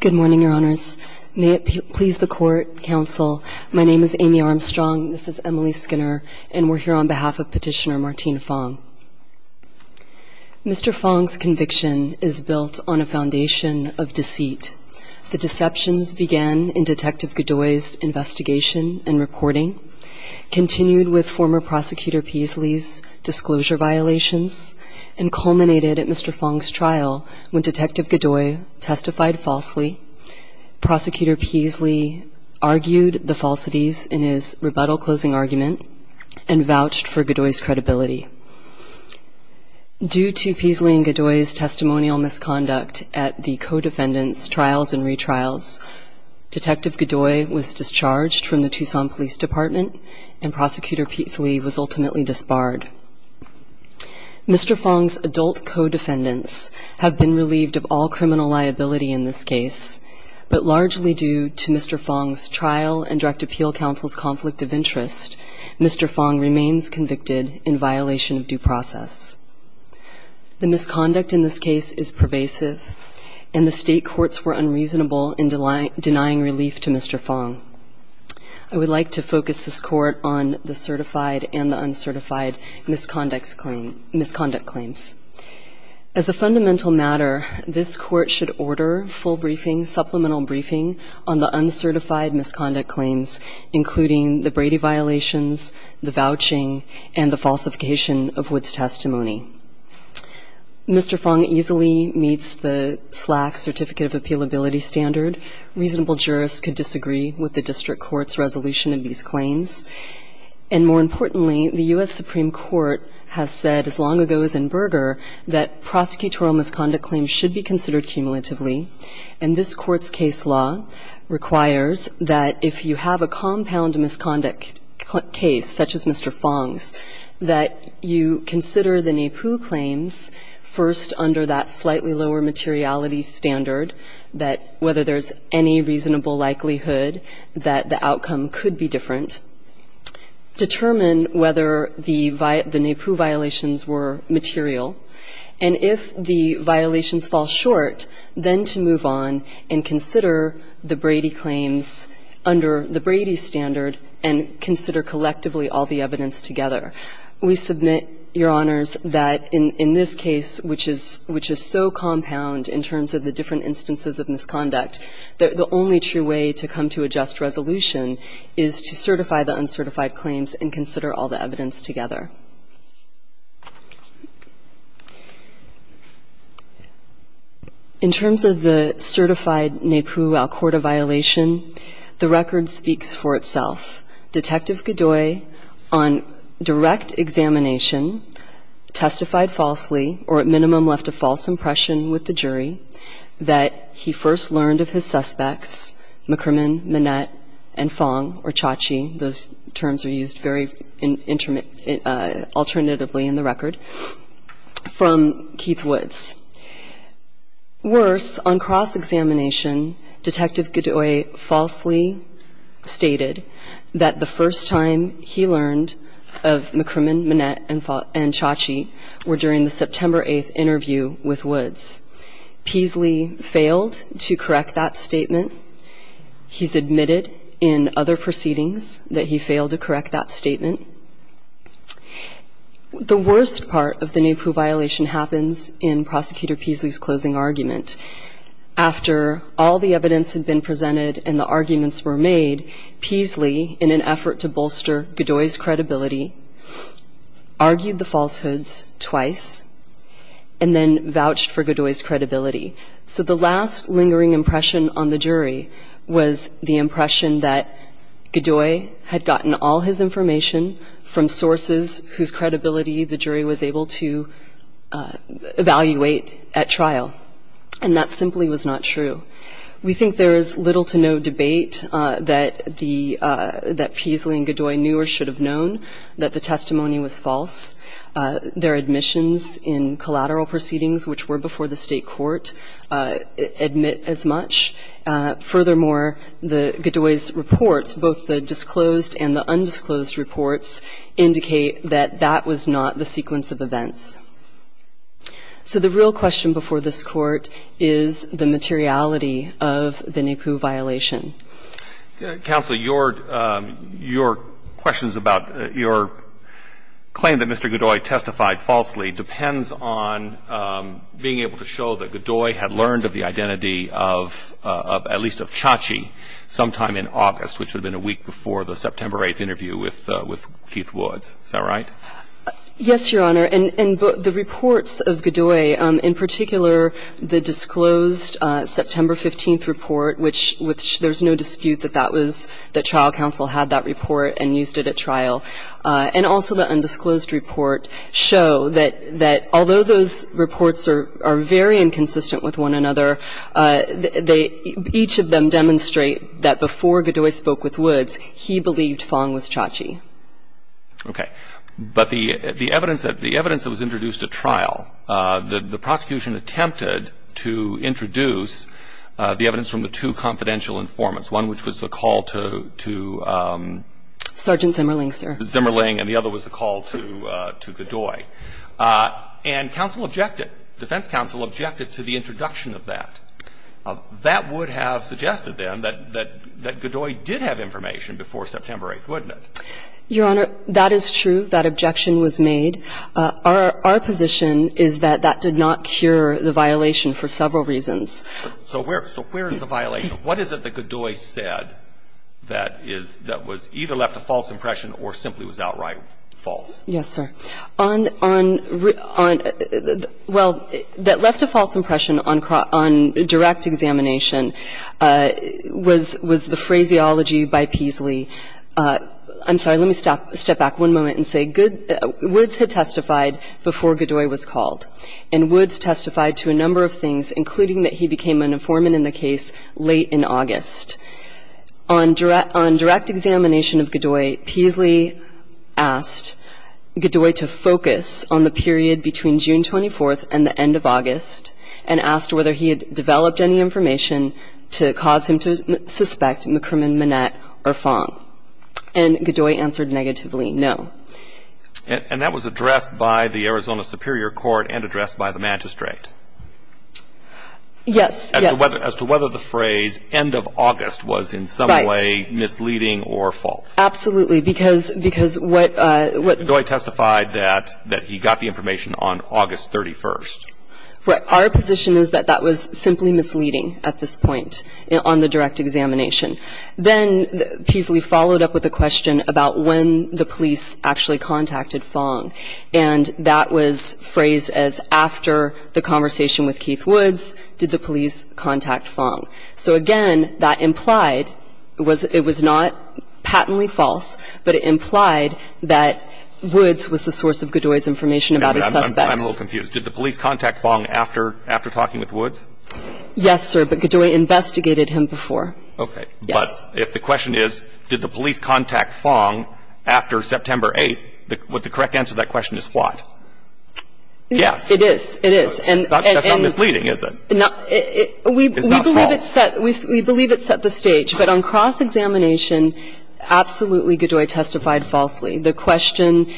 Good morning, Your Honors. May it please the Court, Counsel, my name is Amy Armstrong, this is Emily Skinner, and we're here on behalf of Petitioner Martine Fong. Mr. Fong's conviction is built on a foundation of deceit. The deceptions began in Detective Godoy's investigation and reporting, continued with former Prosecutor Peasley's disclosure violations, and culminated at Mr. Fong's trial when Detective Godoy testified falsely, Prosecutor Peasley argued the falsities in his rebuttal closing argument, and vouched for Godoy's credibility. Due to Peasley and Godoy's testimonial misconduct at the co-defendants' trials and retrials, Detective Godoy was discharged from the Tucson Police Department, and Prosecutor Peasley was ultimately disbarred. Mr. Fong's adult co-defendants have been relieved of all criminal liability in this case, but largely due to Mr. Fong's trial and Direct Appeal Counsel's conflict of interest, Mr. Fong remains convicted in violation of due process. The misconduct in this case is pervasive, and the state courts were unreasonable in denying relief to Mr. Fong. I would like to focus this Court on the certified and the uncertified misconduct claims. As a fundamental matter, this Court should order full briefing, supplemental briefing, on the uncertified misconduct claims, including the Brady violations, the vouching, and the falsification of Wood's testimony. Mr. Fong easily meets the SLAC certificate of appealability standard. Reasonable jurists could disagree with the District Court's resolution of these claims. And more importantly, the U.S. Supreme Court has said as long ago as in Berger that prosecutorial misconduct claims should be considered cumulatively. And this Court's case law requires that if you have a compound misconduct case, such as Mr. Fong's, that you consider the NAPU claims first under that slightly lower materiality standard, that whether there's any reasonable likelihood that the outcome could be different. Determine whether the NAPU violations were material. And if the violations fall short, then to move on and consider the Brady claims under the Brady standard and consider collectively all the evidence together. We submit, Your Honors, that in this case, which is so compound in terms of the different instances of misconduct, that the only true way to come to a just resolution is to certify the uncertified claims and consider all the evidence together. In terms of the certified NAPU Al Corte violation, the record speaks for itself. Detective Godoy, on direct examination, testified falsely, or at minimum left a false impression with the jury, that he first learned of his suspects, McCrimmon, Manette, and Fong, or Chachi. Those terms are used very alternatively in the record, from Keith Woods. Worse, on cross-examination, Detective Godoy falsely stated that the first time he learned of McCrimmon, Manette, and Chachi were during the September 8th interview with Woods. Peasley failed to correct that statement. He's admitted in other proceedings that he failed to correct that statement. The worst part of the NAPU violation happens in Prosecutor Peasley's closing argument. After all the evidence had been presented and the arguments were made, Peasley, in an effort to bolster Godoy's credibility, argued the falsehoods twice and then vouched for Godoy's credibility. So the last lingering impression on the jury was the impression that Godoy had gotten all his information from sources whose credibility the jury was able to evaluate at trial. And that simply was not true. We think there is little to no debate that Peasley and Godoy knew or should have known. We think that the testimony was false. Their admissions in collateral proceedings, which were before the State court, admit as much. Furthermore, Godoy's reports, both the disclosed and the undisclosed reports, indicate that that was not the sequence of events. So the real question before this Court is the materiality of the NAPU violation. Counsel, your questions about your claim that Mr. Godoy testified falsely depends on being able to show that Godoy had learned of the identity of at least of Chachi sometime in August, which would have been a week before the September 8th interview with Keith Woods. Is that right? Yes, Your Honor. And the reports of Godoy, in particular the disclosed September 15th report, which there's no dispute that that was the trial counsel had that report and used it at trial. And also the undisclosed report show that although those reports are very inconsistent with one another, each of them demonstrate that before Godoy spoke with Woods, he believed Fong was Chachi. Okay. But the evidence that was introduced at trial, the prosecution attempted to introduce the evidence from the two confidential informants, one which was the call to Sergeant Zimmerling, sir. Zimmerling, and the other was the call to Godoy. And counsel objected, defense counsel objected to the introduction of that. That would have suggested, then, that Godoy did have information before September 8th, wouldn't it? Your Honor, that is true. That objection was made. Our position is that that did not cure the violation for several reasons. So where is the violation? What is it that Godoy said that was either left a false impression or simply was outright false? Yes, sir. Well, that left a false impression on direct examination. And that was the phraseology by Peasley. I'm sorry. Let me step back one moment and say Woods had testified before Godoy was called. And Woods testified to a number of things, including that he became an informant in the case late in August. On direct examination of Godoy, Peasley asked Godoy to focus on the period between June 24th and the end of August and asked whether he had developed any information to cause him to suspect McCrimmon, Manette, or Fong. And Godoy answered negatively, no. And that was addressed by the Arizona Superior Court and addressed by the magistrate? Yes, yes. As to whether the phrase end of August was in some way misleading or false? Absolutely. Because what Godoy testified that he got the information on August 31st. Right. Our position is that that was simply misleading at this point on the direct examination. Then Peasley followed up with a question about when the police actually contacted Fong. And that was phrased as after the conversation with Keith Woods did the police contact Fong. So again, that implied it was not patently false, but it implied that Woods was the source of Godoy's information about his suspects. I'm a little confused. Did the police contact Fong after talking with Woods? Yes, sir. But Godoy investigated him before. Okay. But if the question is did the police contact Fong after September 8th, would the correct answer to that question is what? Yes. It is. It is. That's not misleading, is it? It's not false. We believe it set the stage. But on cross-examination, absolutely Godoy testified falsely. The question,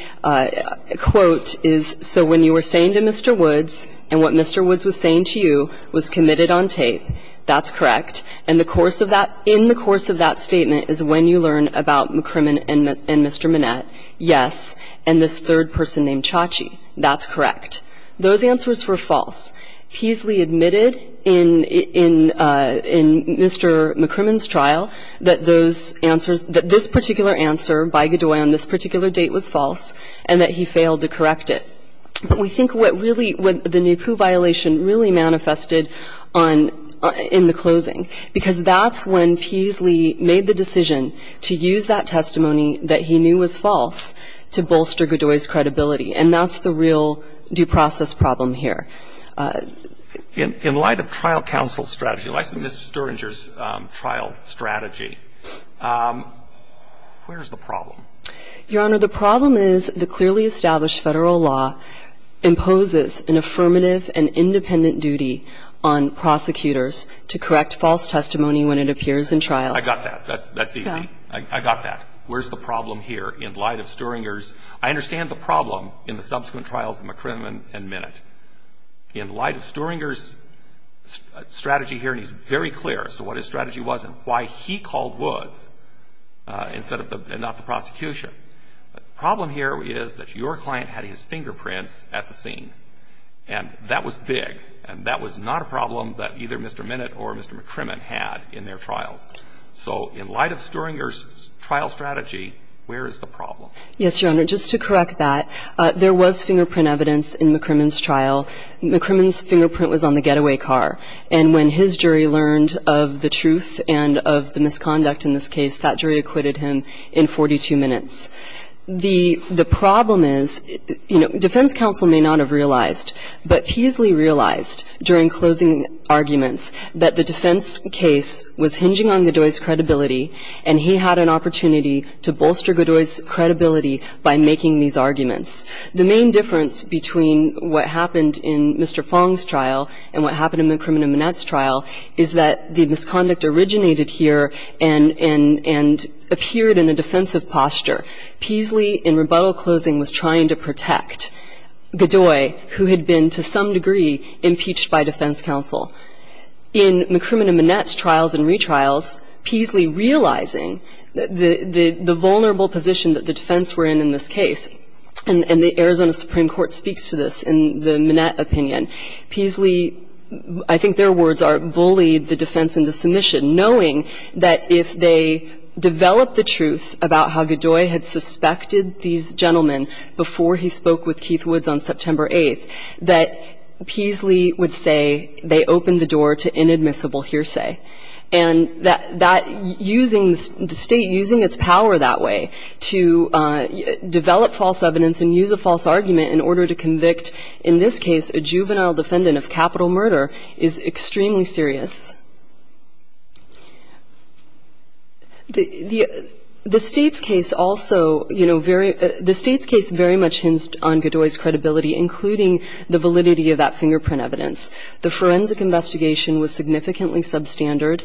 quote, is so when you were saying to Mr. Woods and what Mr. Woods was saying to you was committed on tape, that's correct. And the course of that, in the course of that statement is when you learn about McCrimmon and Mr. Manette, yes, and this third person named Chachi, that's correct. Those answers were false. Peasley admitted in Mr. McCrimmon's trial that those answers, that this particular answer by Godoy on this particular date was false and that he failed to correct it. But we think what really, what the Nehpoo violation really manifested on, in the closing, because that's when Peasley made the decision to use that testimony that he knew was false to bolster Godoy's credibility. And that's the real due process problem here. In light of trial counsel's strategy, in light of Mr. Sturinger's trial strategy, where is the problem? Your Honor, the problem is the clearly established Federal law imposes an affirmative and independent duty on prosecutors to correct false testimony when it appears in trial. I got that. That's easy. I got that. Where's the problem here? In light of Sturinger's, I understand the problem in the subsequent trials of McCrimmon and Manette. In light of Sturinger's strategy here, and he's very clear as to what his strategy was and why he called Woods instead of the, and not the prosecution. The problem here is that your client had his fingerprints at the scene. And that was big. And that was not a problem that either Mr. Manette or Mr. McCrimmon had in their trials. So in light of Sturinger's trial strategy, where is the problem? Yes, Your Honor. Just to correct that, there was fingerprint evidence in McCrimmon's trial. McCrimmon's fingerprint was on the getaway car. And when his jury learned of the truth and of the misconduct in this case, that jury acquitted him in 42 minutes. The problem is, you know, defense counsel may not have realized, but Peasley realized during closing arguments that the defense case was hinging on Godoy's credibility. And he had an opportunity to bolster Godoy's credibility by making these arguments. The main difference between what happened in Mr. Fong's trial and what happened in McCrimmon and Manette's trial is that the misconduct originated here and, and appeared in a defensive posture. Peasley, in rebuttal closing, was trying to protect Godoy, who had been to some degree impeached by defense counsel. In McCrimmon and Manette's trials and retrials, Peasley realizing the, the vulnerable position that the defense were in in this case, and the Arizona Supreme Court speaks to this in the Manette opinion. Peasley, I think their words are, bullied the defense into submission, knowing that if they developed the truth about how Godoy had suspected these murders, that they would not be subject to Godoy's credibility. And that, that, using, the state using its power that way to develop false evidence and use a false argument in order to convict, in this case, a juvenile defendant of capital murder, is extremely serious. The, the, the state's case also, you know, very, the state's case very much hinged on Godoy's credibility, including the validity of that fingerprint evidence. The forensic investigation was significantly substandard.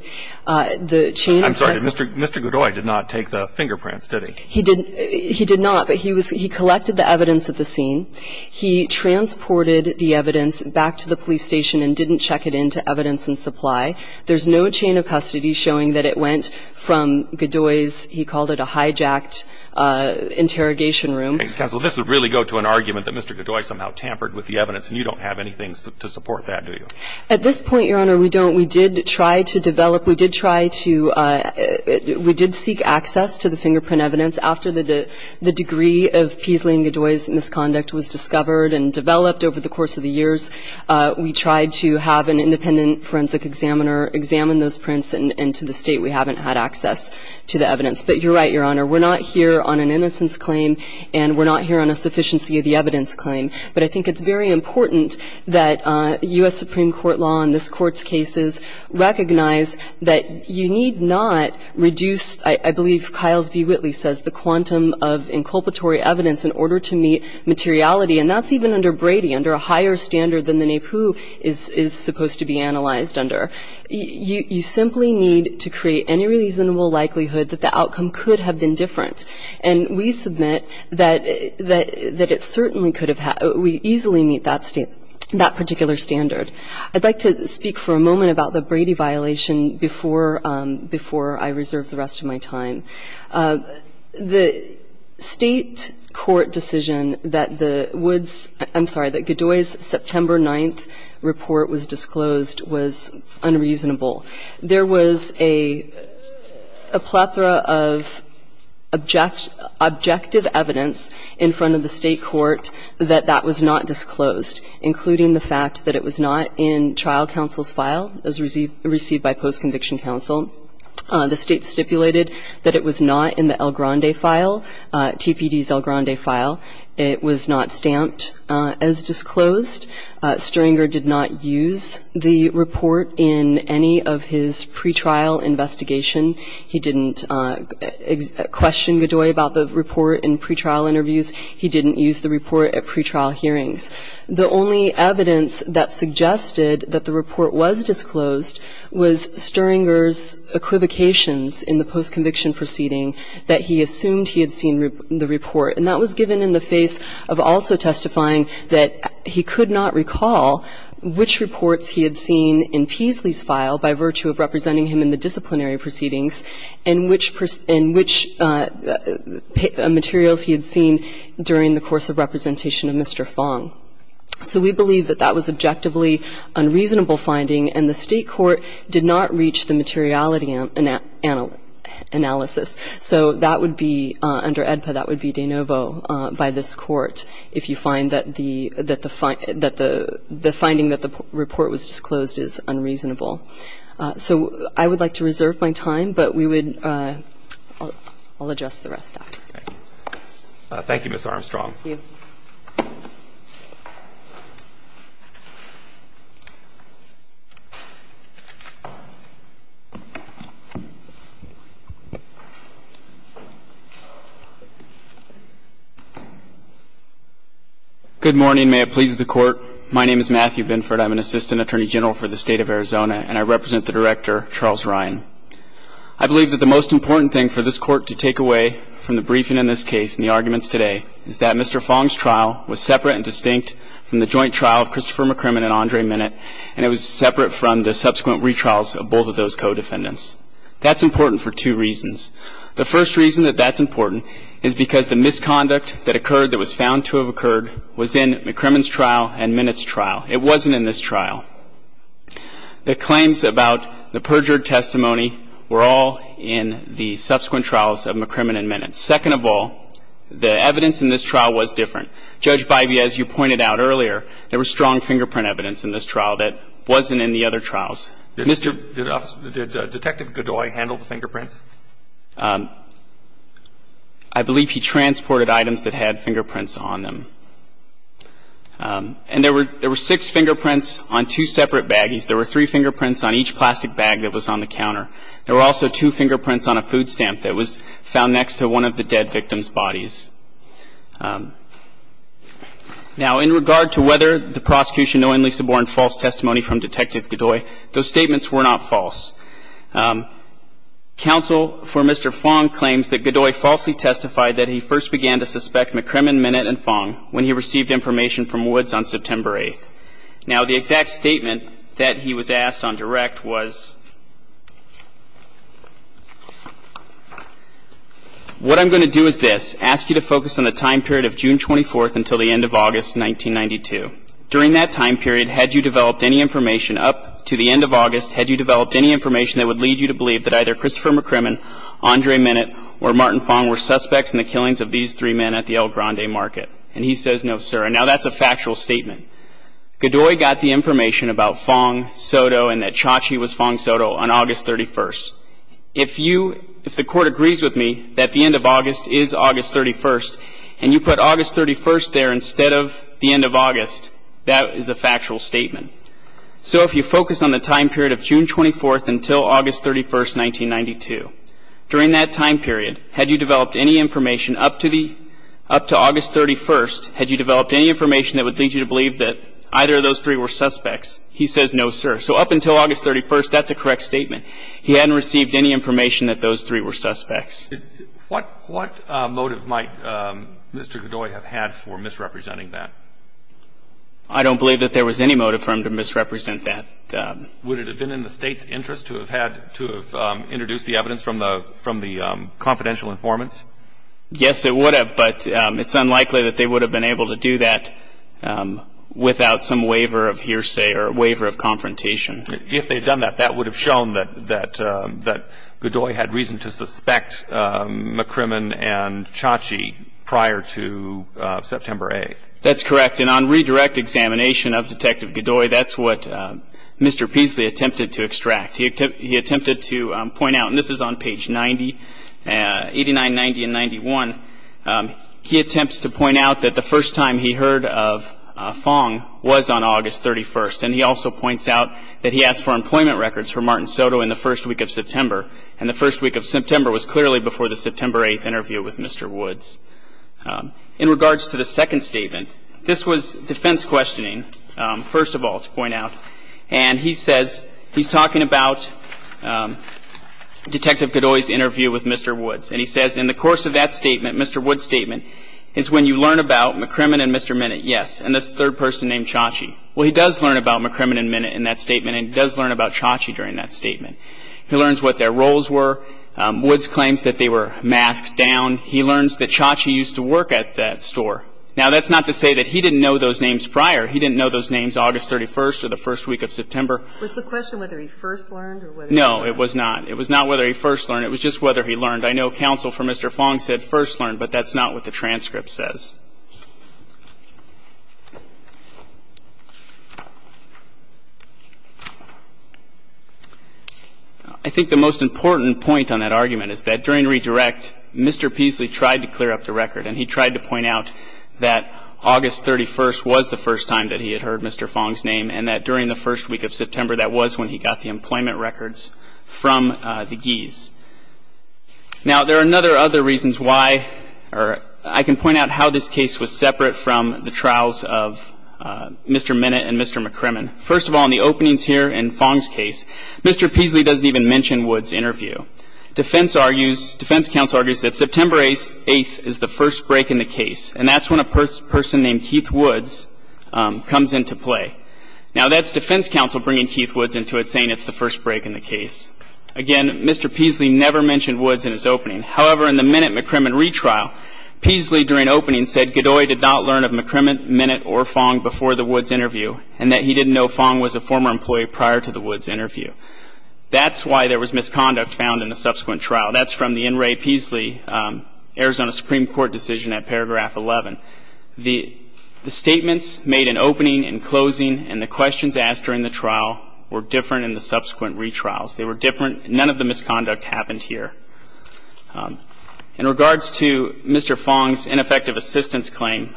The chain of custody. I'm sorry. Mr. Godoy did not take the fingerprints, did he? He didn't. He did not. But he was, he collected the evidence at the scene. He transported the evidence back to the police station and didn't check it into evidence in supply. There's no chain of custody showing that it went from Godoy's, he called it a hijacked interrogation room. Counsel, this would really go to an argument that Mr. Godoy somehow tampered with the evidence, and you don't have anything to support that, do you? At this point, Your Honor, we don't. We did try to develop, we did try to, we did seek access to the fingerprint evidence. After the, the degree of Peaslee and Godoy's misconduct was discovered and developed over the course of the years, we tried to have an independent forensic examiner examine those prints. And to this day, we haven't had access to the evidence. But you're right, Your Honor. We're not here on an innocence claim, and we're not here on a sufficiency of the evidence claim. But I think it's very important that U.S. Supreme Court law in this Court's cases recognize that you need not reduce, I believe Kyles B. Whitley says, the quantum of inculpatory evidence in order to meet materiality. And that's even under Brady, under a higher standard than the NAPU is, is supposed to be analyzed under. You simply need to create any reasonable likelihood that the outcome could have been different. And we submit that it certainly could have, we easily meet that particular standard. I'd like to speak for a moment about the Brady violation before I reserve the rest of my time. The State court decision that the Woods, I'm sorry, that Godoy's September 9th case was unreasonable. There was a plethora of objective evidence in front of the State court that that was not disclosed, including the fact that it was not in trial counsel's file as received by post-conviction counsel. The State stipulated that it was not in the El Grande file, TPD's El Grande file. It was not stamped as disclosed. Stirringer did not use the report in any of his pretrial investigation. He didn't question Godoy about the report in pretrial interviews. He didn't use the report at pretrial hearings. The only evidence that suggested that the report was disclosed was Stirringer's equivocations in the post-conviction proceeding that he assumed he had seen the report. And that was given in the face of also testifying that he could not recall which reports he had seen in Peasley's file by virtue of representing him in the disciplinary proceedings and which materials he had seen during the course of representation of Mr. Fong. So we believe that that was objectively unreasonable finding, and the State court did not reach the materiality analysis. So that would be under AEDPA, that would be de novo by this Court if you find that the finding that the report was disclosed is unreasonable. So I would like to reserve my time, but we would – I'll address the rest after. Thank you. Thank you. Good morning. May it please the Court. My name is Matthew Binford. I'm an Assistant Attorney General for the State of Arizona, and I represent the Director, Charles Ryan. I believe that the most important thing for this Court to take away from the briefing in this case and the arguments today is that Mr. Fong's trial was separate and distinct from the joint trial of Christopher McCrimmon and Andre Minnit, and it was separate from the subsequent retrials of both of those co-defendants. That's important for two reasons. The first reason that that's important is because the misconduct that occurred that was found to have occurred was in McCrimmon's trial and Minnit's trial. It wasn't in this trial. The claims about the perjured testimony were all in the subsequent trials of McCrimmon and Minnit. Second of all, the evidence in this trial was different. Judge Bivey, as you pointed out earlier, there was strong fingerprint evidence in this trial that wasn't in the other trials. Did Detective Godoy handle the fingerprints? I believe he transported items that had fingerprints on them. And there were six fingerprints on two separate baggies. There were three fingerprints on each plastic bag that was on the counter. There were also two fingerprints on a food stamp that was found next to one of the dead victim's bodies. Now, in regard to whether the prosecution knowingly suborned false testimony from Detective Godoy, those statements were not false. Counsel for Mr. Fong claims that Godoy falsely testified that he first began to suspect McCrimmon, Minnit, and Fong when he received information from Woods on September 8th. Now, the exact statement that he was asked on direct was, What I'm going to do is this. Ask you to focus on the time period of June 24th until the end of August 1992. During that time period, had you developed any information up to the end of August, had you developed any information that would lead you to believe that either Christopher McCrimmon, Andre Minnit, or Martin Fong were suspects in the killings of these three men at the El Grande market? And he says, No, sir. And now that's a factual statement. Godoy got the information about Fong, Soto, and that Chachi was Fong Soto on August 31st. If you, if the court agrees with me that the end of August is August 31st, and you put August 31st there instead of the end of August, that is a factual statement. So if you focus on the time period of June 24th until August 31st, 1992, during that time period, had you developed any information up to the, up to August 31st, had you developed any information that would lead you to believe that either of those three were suspects? He says, No, sir. So up until August 31st, that's a correct statement. He hadn't received any information that those three were suspects. What motive might Mr. Godoy have had for misrepresenting that? I don't believe that there was any motive for him to misrepresent that. Would it have been in the State's interest to have had, to have introduced the evidence from the confidential informants? Yes, it would have. But it's unlikely that they would have been able to do that without some waiver of hearsay or waiver of confrontation. If they had done that, that would have shown that, that Godoy had reason to suspect McCrimmon and Chachi prior to September 8th. That's correct. And on redirect examination of Detective Godoy, that's what Mr. Peasley attempted to extract. He attempted to point out, and this is on page 90, 89, 90, and 91, he attempts to point out that the first time he heard of Fong was on August 31st. And he also points out that he asked for employment records for Martin Soto in the first week of September. And the first week of September was clearly before the September 8th interview with Mr. Woods. In regards to the second statement, this was defense questioning, first of all, to point out. And he says, he's talking about Detective Godoy's interview with Mr. Woods. And he says, in the course of that statement, Mr. Woods' statement, is when you learn about McCrimmon and Mr. Minnett, yes, and this third person named Chachi. Well, he does learn about McCrimmon and Minnett in that statement, and he does learn about Chachi during that statement. He learns what their roles were. Woods claims that they were masked down. He learns that Chachi used to work at that store. Now, that's not to say that he didn't know those names prior. He didn't know those names August 31st or the first week of September. Was the question whether he first learned or whether he learned? No, it was not. It was not whether he first learned. It was just whether he learned. I know counsel for Mr. Fong said first learn, but that's not what the transcript says. I think the most important point on that argument is that during redirect, Mr. Peasley tried to clear up the record, and he tried to point out that August 31st was the first time that he had heard Mr. Fong's name, and that during the first week of September, that was when he got the employment records from the Gees. Now, there are other reasons why, or I can point out how this case was separate from the trials of Mr. Minnett and Mr. McCrimmon. First of all, in the openings here in Fong's case, Mr. Peasley doesn't even mention Woods' interview. Defense counsel argues that September 8th is the first break in the case, and that's when a person named Keith Woods comes into play. Now, that's defense counsel bringing Keith Woods into it, saying it's the first break in the case. Again, Mr. Peasley never mentioned Woods in his opening. However, in the Minnett-McCrimmon retrial, Peasley, during opening, said Godoy did not learn of McCrimmon, Minnett, or Fong before the Woods interview, and that he didn't know Fong was a former employee prior to the Woods interview. That's why there was misconduct found in the subsequent trial. That's from the N. Ray Peasley Arizona Supreme Court decision at paragraph 11. The statements made in opening and closing and the questions asked during the trial were different in the subsequent retrials. They were different. None of the misconduct happened here. In regards to Mr. Fong's ineffective assistance claim,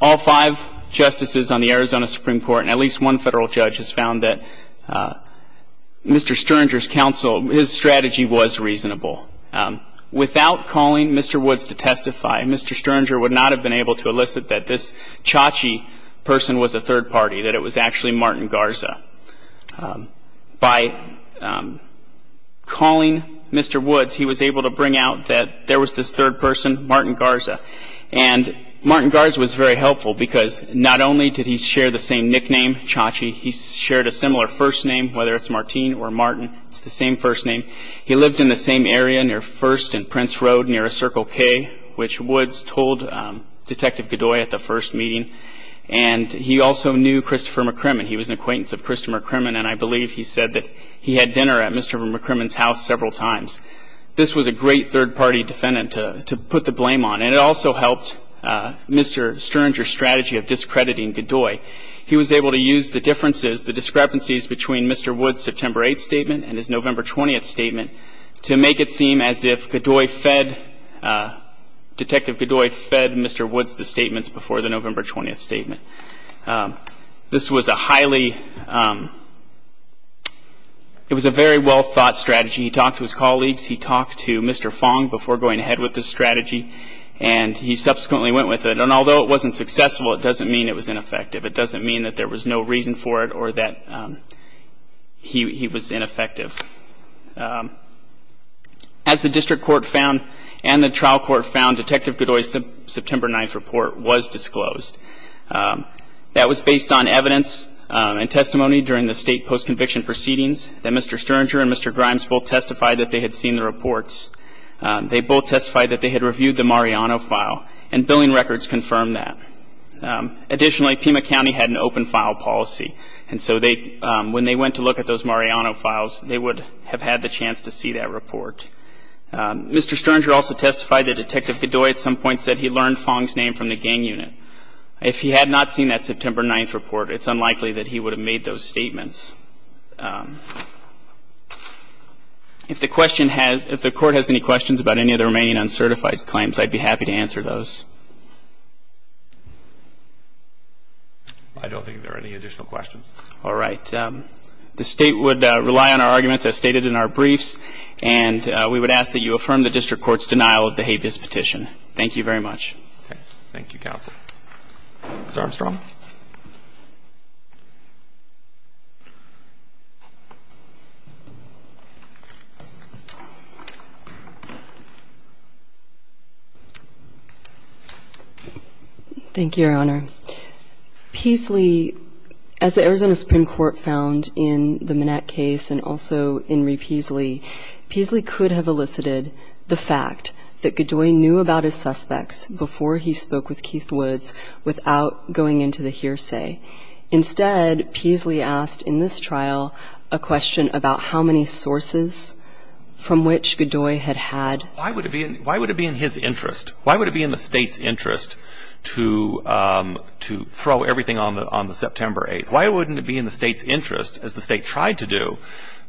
all five justices on the Arizona Supreme Court and at least one Federal judge has found that Mr. Sternger's counsel his strategy was reasonable. Without calling Mr. Woods to testify, Mr. Sternger would not have been able to elicit that this Chachi person was a third party, that it was actually Martin Garza. By calling Mr. Woods, he was able to bring out that there was this third person, Martin Garza. And Martin Garza was very helpful because not only did he share the same nickname, Chachi, he shared a similar first name, whether it's Martin or Martin, it's the same first name. He lived in the same area near First and Prince Road near a Circle K, which Woods told Detective Godoy at the first meeting. And he also knew Christopher McCrimmon. He was an acquaintance of Christopher McCrimmon, and I believe he said that he had dinner at Mr. McCrimmon's house several times. This was a great third party defendant to put the blame on. And it also helped Mr. Sternger's strategy of discrediting Godoy. He was able to use the differences, the discrepancies between Mr. Woods' September 8th statement and his November 20th statement to make it seem as if Godoy fed, Detective Godoy fed Mr. Woods the statements before the November 20th statement. This was a highly, it was a very well thought strategy. He talked to his colleagues. He talked to Mr. Fong before going ahead with this strategy. And he subsequently went with it. And although it wasn't successful, it doesn't mean it was ineffective. It doesn't mean that there was no reason for it or that he was ineffective. As the district court found and the trial court found, Detective Godoy's September 9th report was disclosed. That was based on evidence and testimony during the state post-conviction proceedings that Mr. Sternger and Mr. Grimes both testified that they had seen the reports. They both testified that they had reviewed the Mariano file, and billing records confirmed that. Additionally, Pima County had an open file policy. And so they, when they went to look at those Mariano files, they would have had the chance to see that report. Mr. Sternger also testified that Detective Godoy at some point said he learned Fong's name from the gang unit. If he had not seen that September 9th report, it's unlikely that he would have made those statements. If the question has, if the court has any questions about any of the remaining uncertified claims, I'd be happy to answer those. I don't think there are any additional questions. All right. The State would rely on our arguments as stated in our briefs. And we would ask that you affirm the district court's denial of the habeas petition. Thank you very much. Okay. Thank you, counsel. Ms. Armstrong. Thank you, Your Honor. Peasley, as the Arizona Supreme Court found in the Manette case and also in Repeasley, Peasley could have elicited the fact that Godoy knew about his suspects before he spoke with Keith Woods without going into the hearsay. Instead, Peasley asked in this trial a question about how many sources from which Godoy had had. Why would it be in his interest? Why would it be in the State's interest to throw everything on the September 8th? Why wouldn't it be in the State's interest, as the State tried to do,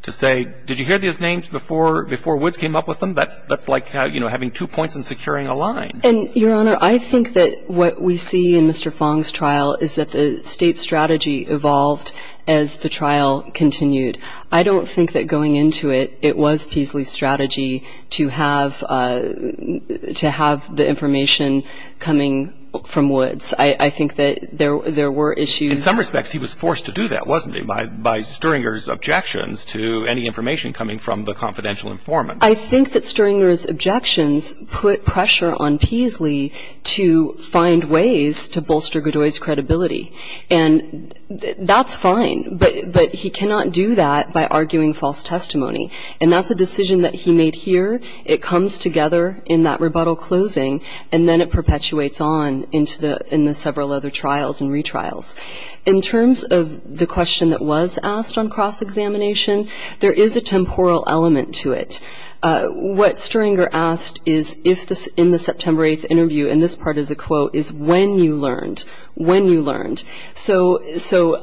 to say, did you hear these names before Woods came up with them? That's like having two points and securing a line. And, Your Honor, I think that what we see in Mr. Fong's trial is that the State's strategy evolved as the trial continued. I don't think that going into it, it was Peasley's strategy to have the information coming from Woods. I think that there were issues. In some respects, he was forced to do that, wasn't he, by Stringer's objections to any information coming from the confidential informant. I think that Stringer's objections put pressure on Peasley to find ways to bolster Godoy's credibility. And that's fine. But he cannot do that by arguing false testimony. And that's a decision that he made here. It comes together in that rebuttal closing, and then it perpetuates on in the several other trials and retrials. In terms of the question that was asked on cross-examination, there is a temporal element to it. What Stringer asked in the September 8th interview, and this part is a quote, is when you learned, when you learned. So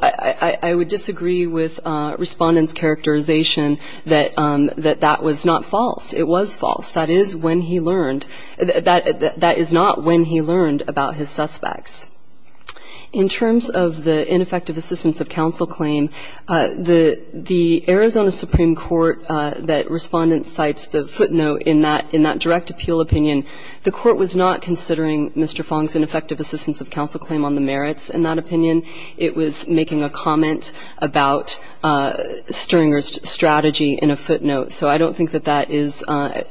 I would disagree with Respondent's characterization that that was not false. It was false. That is when he learned. That is not when he learned about his suspects. In terms of the ineffective assistance of counsel claim, the Arizona Supreme Court that Respondent cites the footnote in that direct appeal opinion, the Court was not considering Mr. Fong's ineffective assistance of counsel claim on the merits in that opinion. It was making a comment about Stringer's strategy in a footnote. So I don't think that that is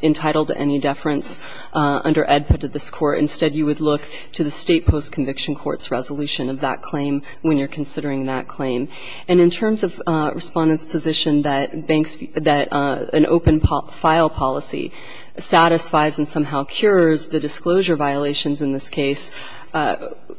entitled to any deference under EDPA to this Court. Instead, you would look to the State Post-Conviction Court's resolution of that claim when you're considering that claim. And in terms of Respondent's position that banks, that an open file policy satisfies and somehow cures the disclosure violations in this case,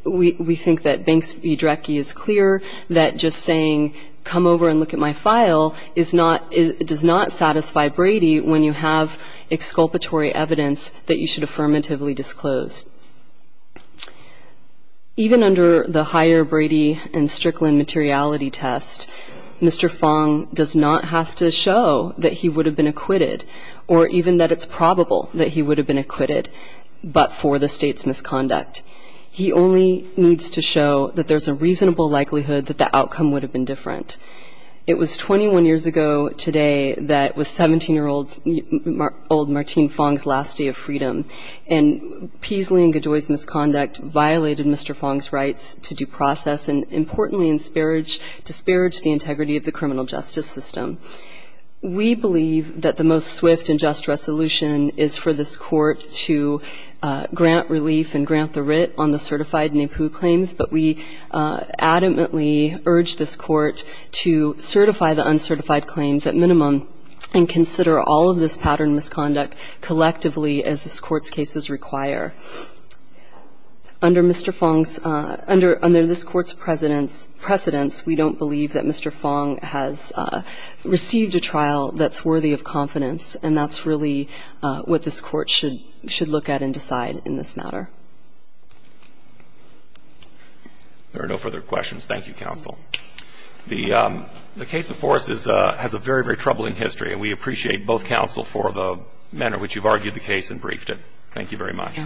we think that Banks v. Drecke is clear that just saying come over and look at my file is not, does not satisfy Brady when you have exculpatory evidence that you should affirmatively disclose. Even under the higher Brady and Strickland materiality test, Mr. Fong does not have to show that he would have been acquitted or even that it's probable that he would have been acquitted but for the State's misconduct. He only needs to show that there's a reasonable likelihood that the outcome would have been different. It was 21 years ago today that was 17-year-old Martin Fong's last day of freedom, and Peasley and Gajoy's misconduct violated Mr. Fong's rights to due process and importantly disparaged the integrity of the criminal justice system. We believe that the most swift and just resolution is for this Court to grant relief and grant the writ on the certified NAPU claims, but we adamantly urge this Court to certify the uncertified claims at minimum and consider all of this pattern misconduct collectively as this Court's cases require. Under Mr. Fong's – under this Court's precedence, we don't believe that Mr. Fong has received a trial that's worthy of confidence, and that's really what this Court should look at and decide in this matter. There are no further questions. Thank you, counsel. The case before us has a very, very troubling history, and we appreciate both counsel for the manner in which you've argued the case and briefed it. Thank you very much.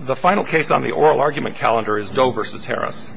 The final case on the oral argument calendar is Doe v. Harris.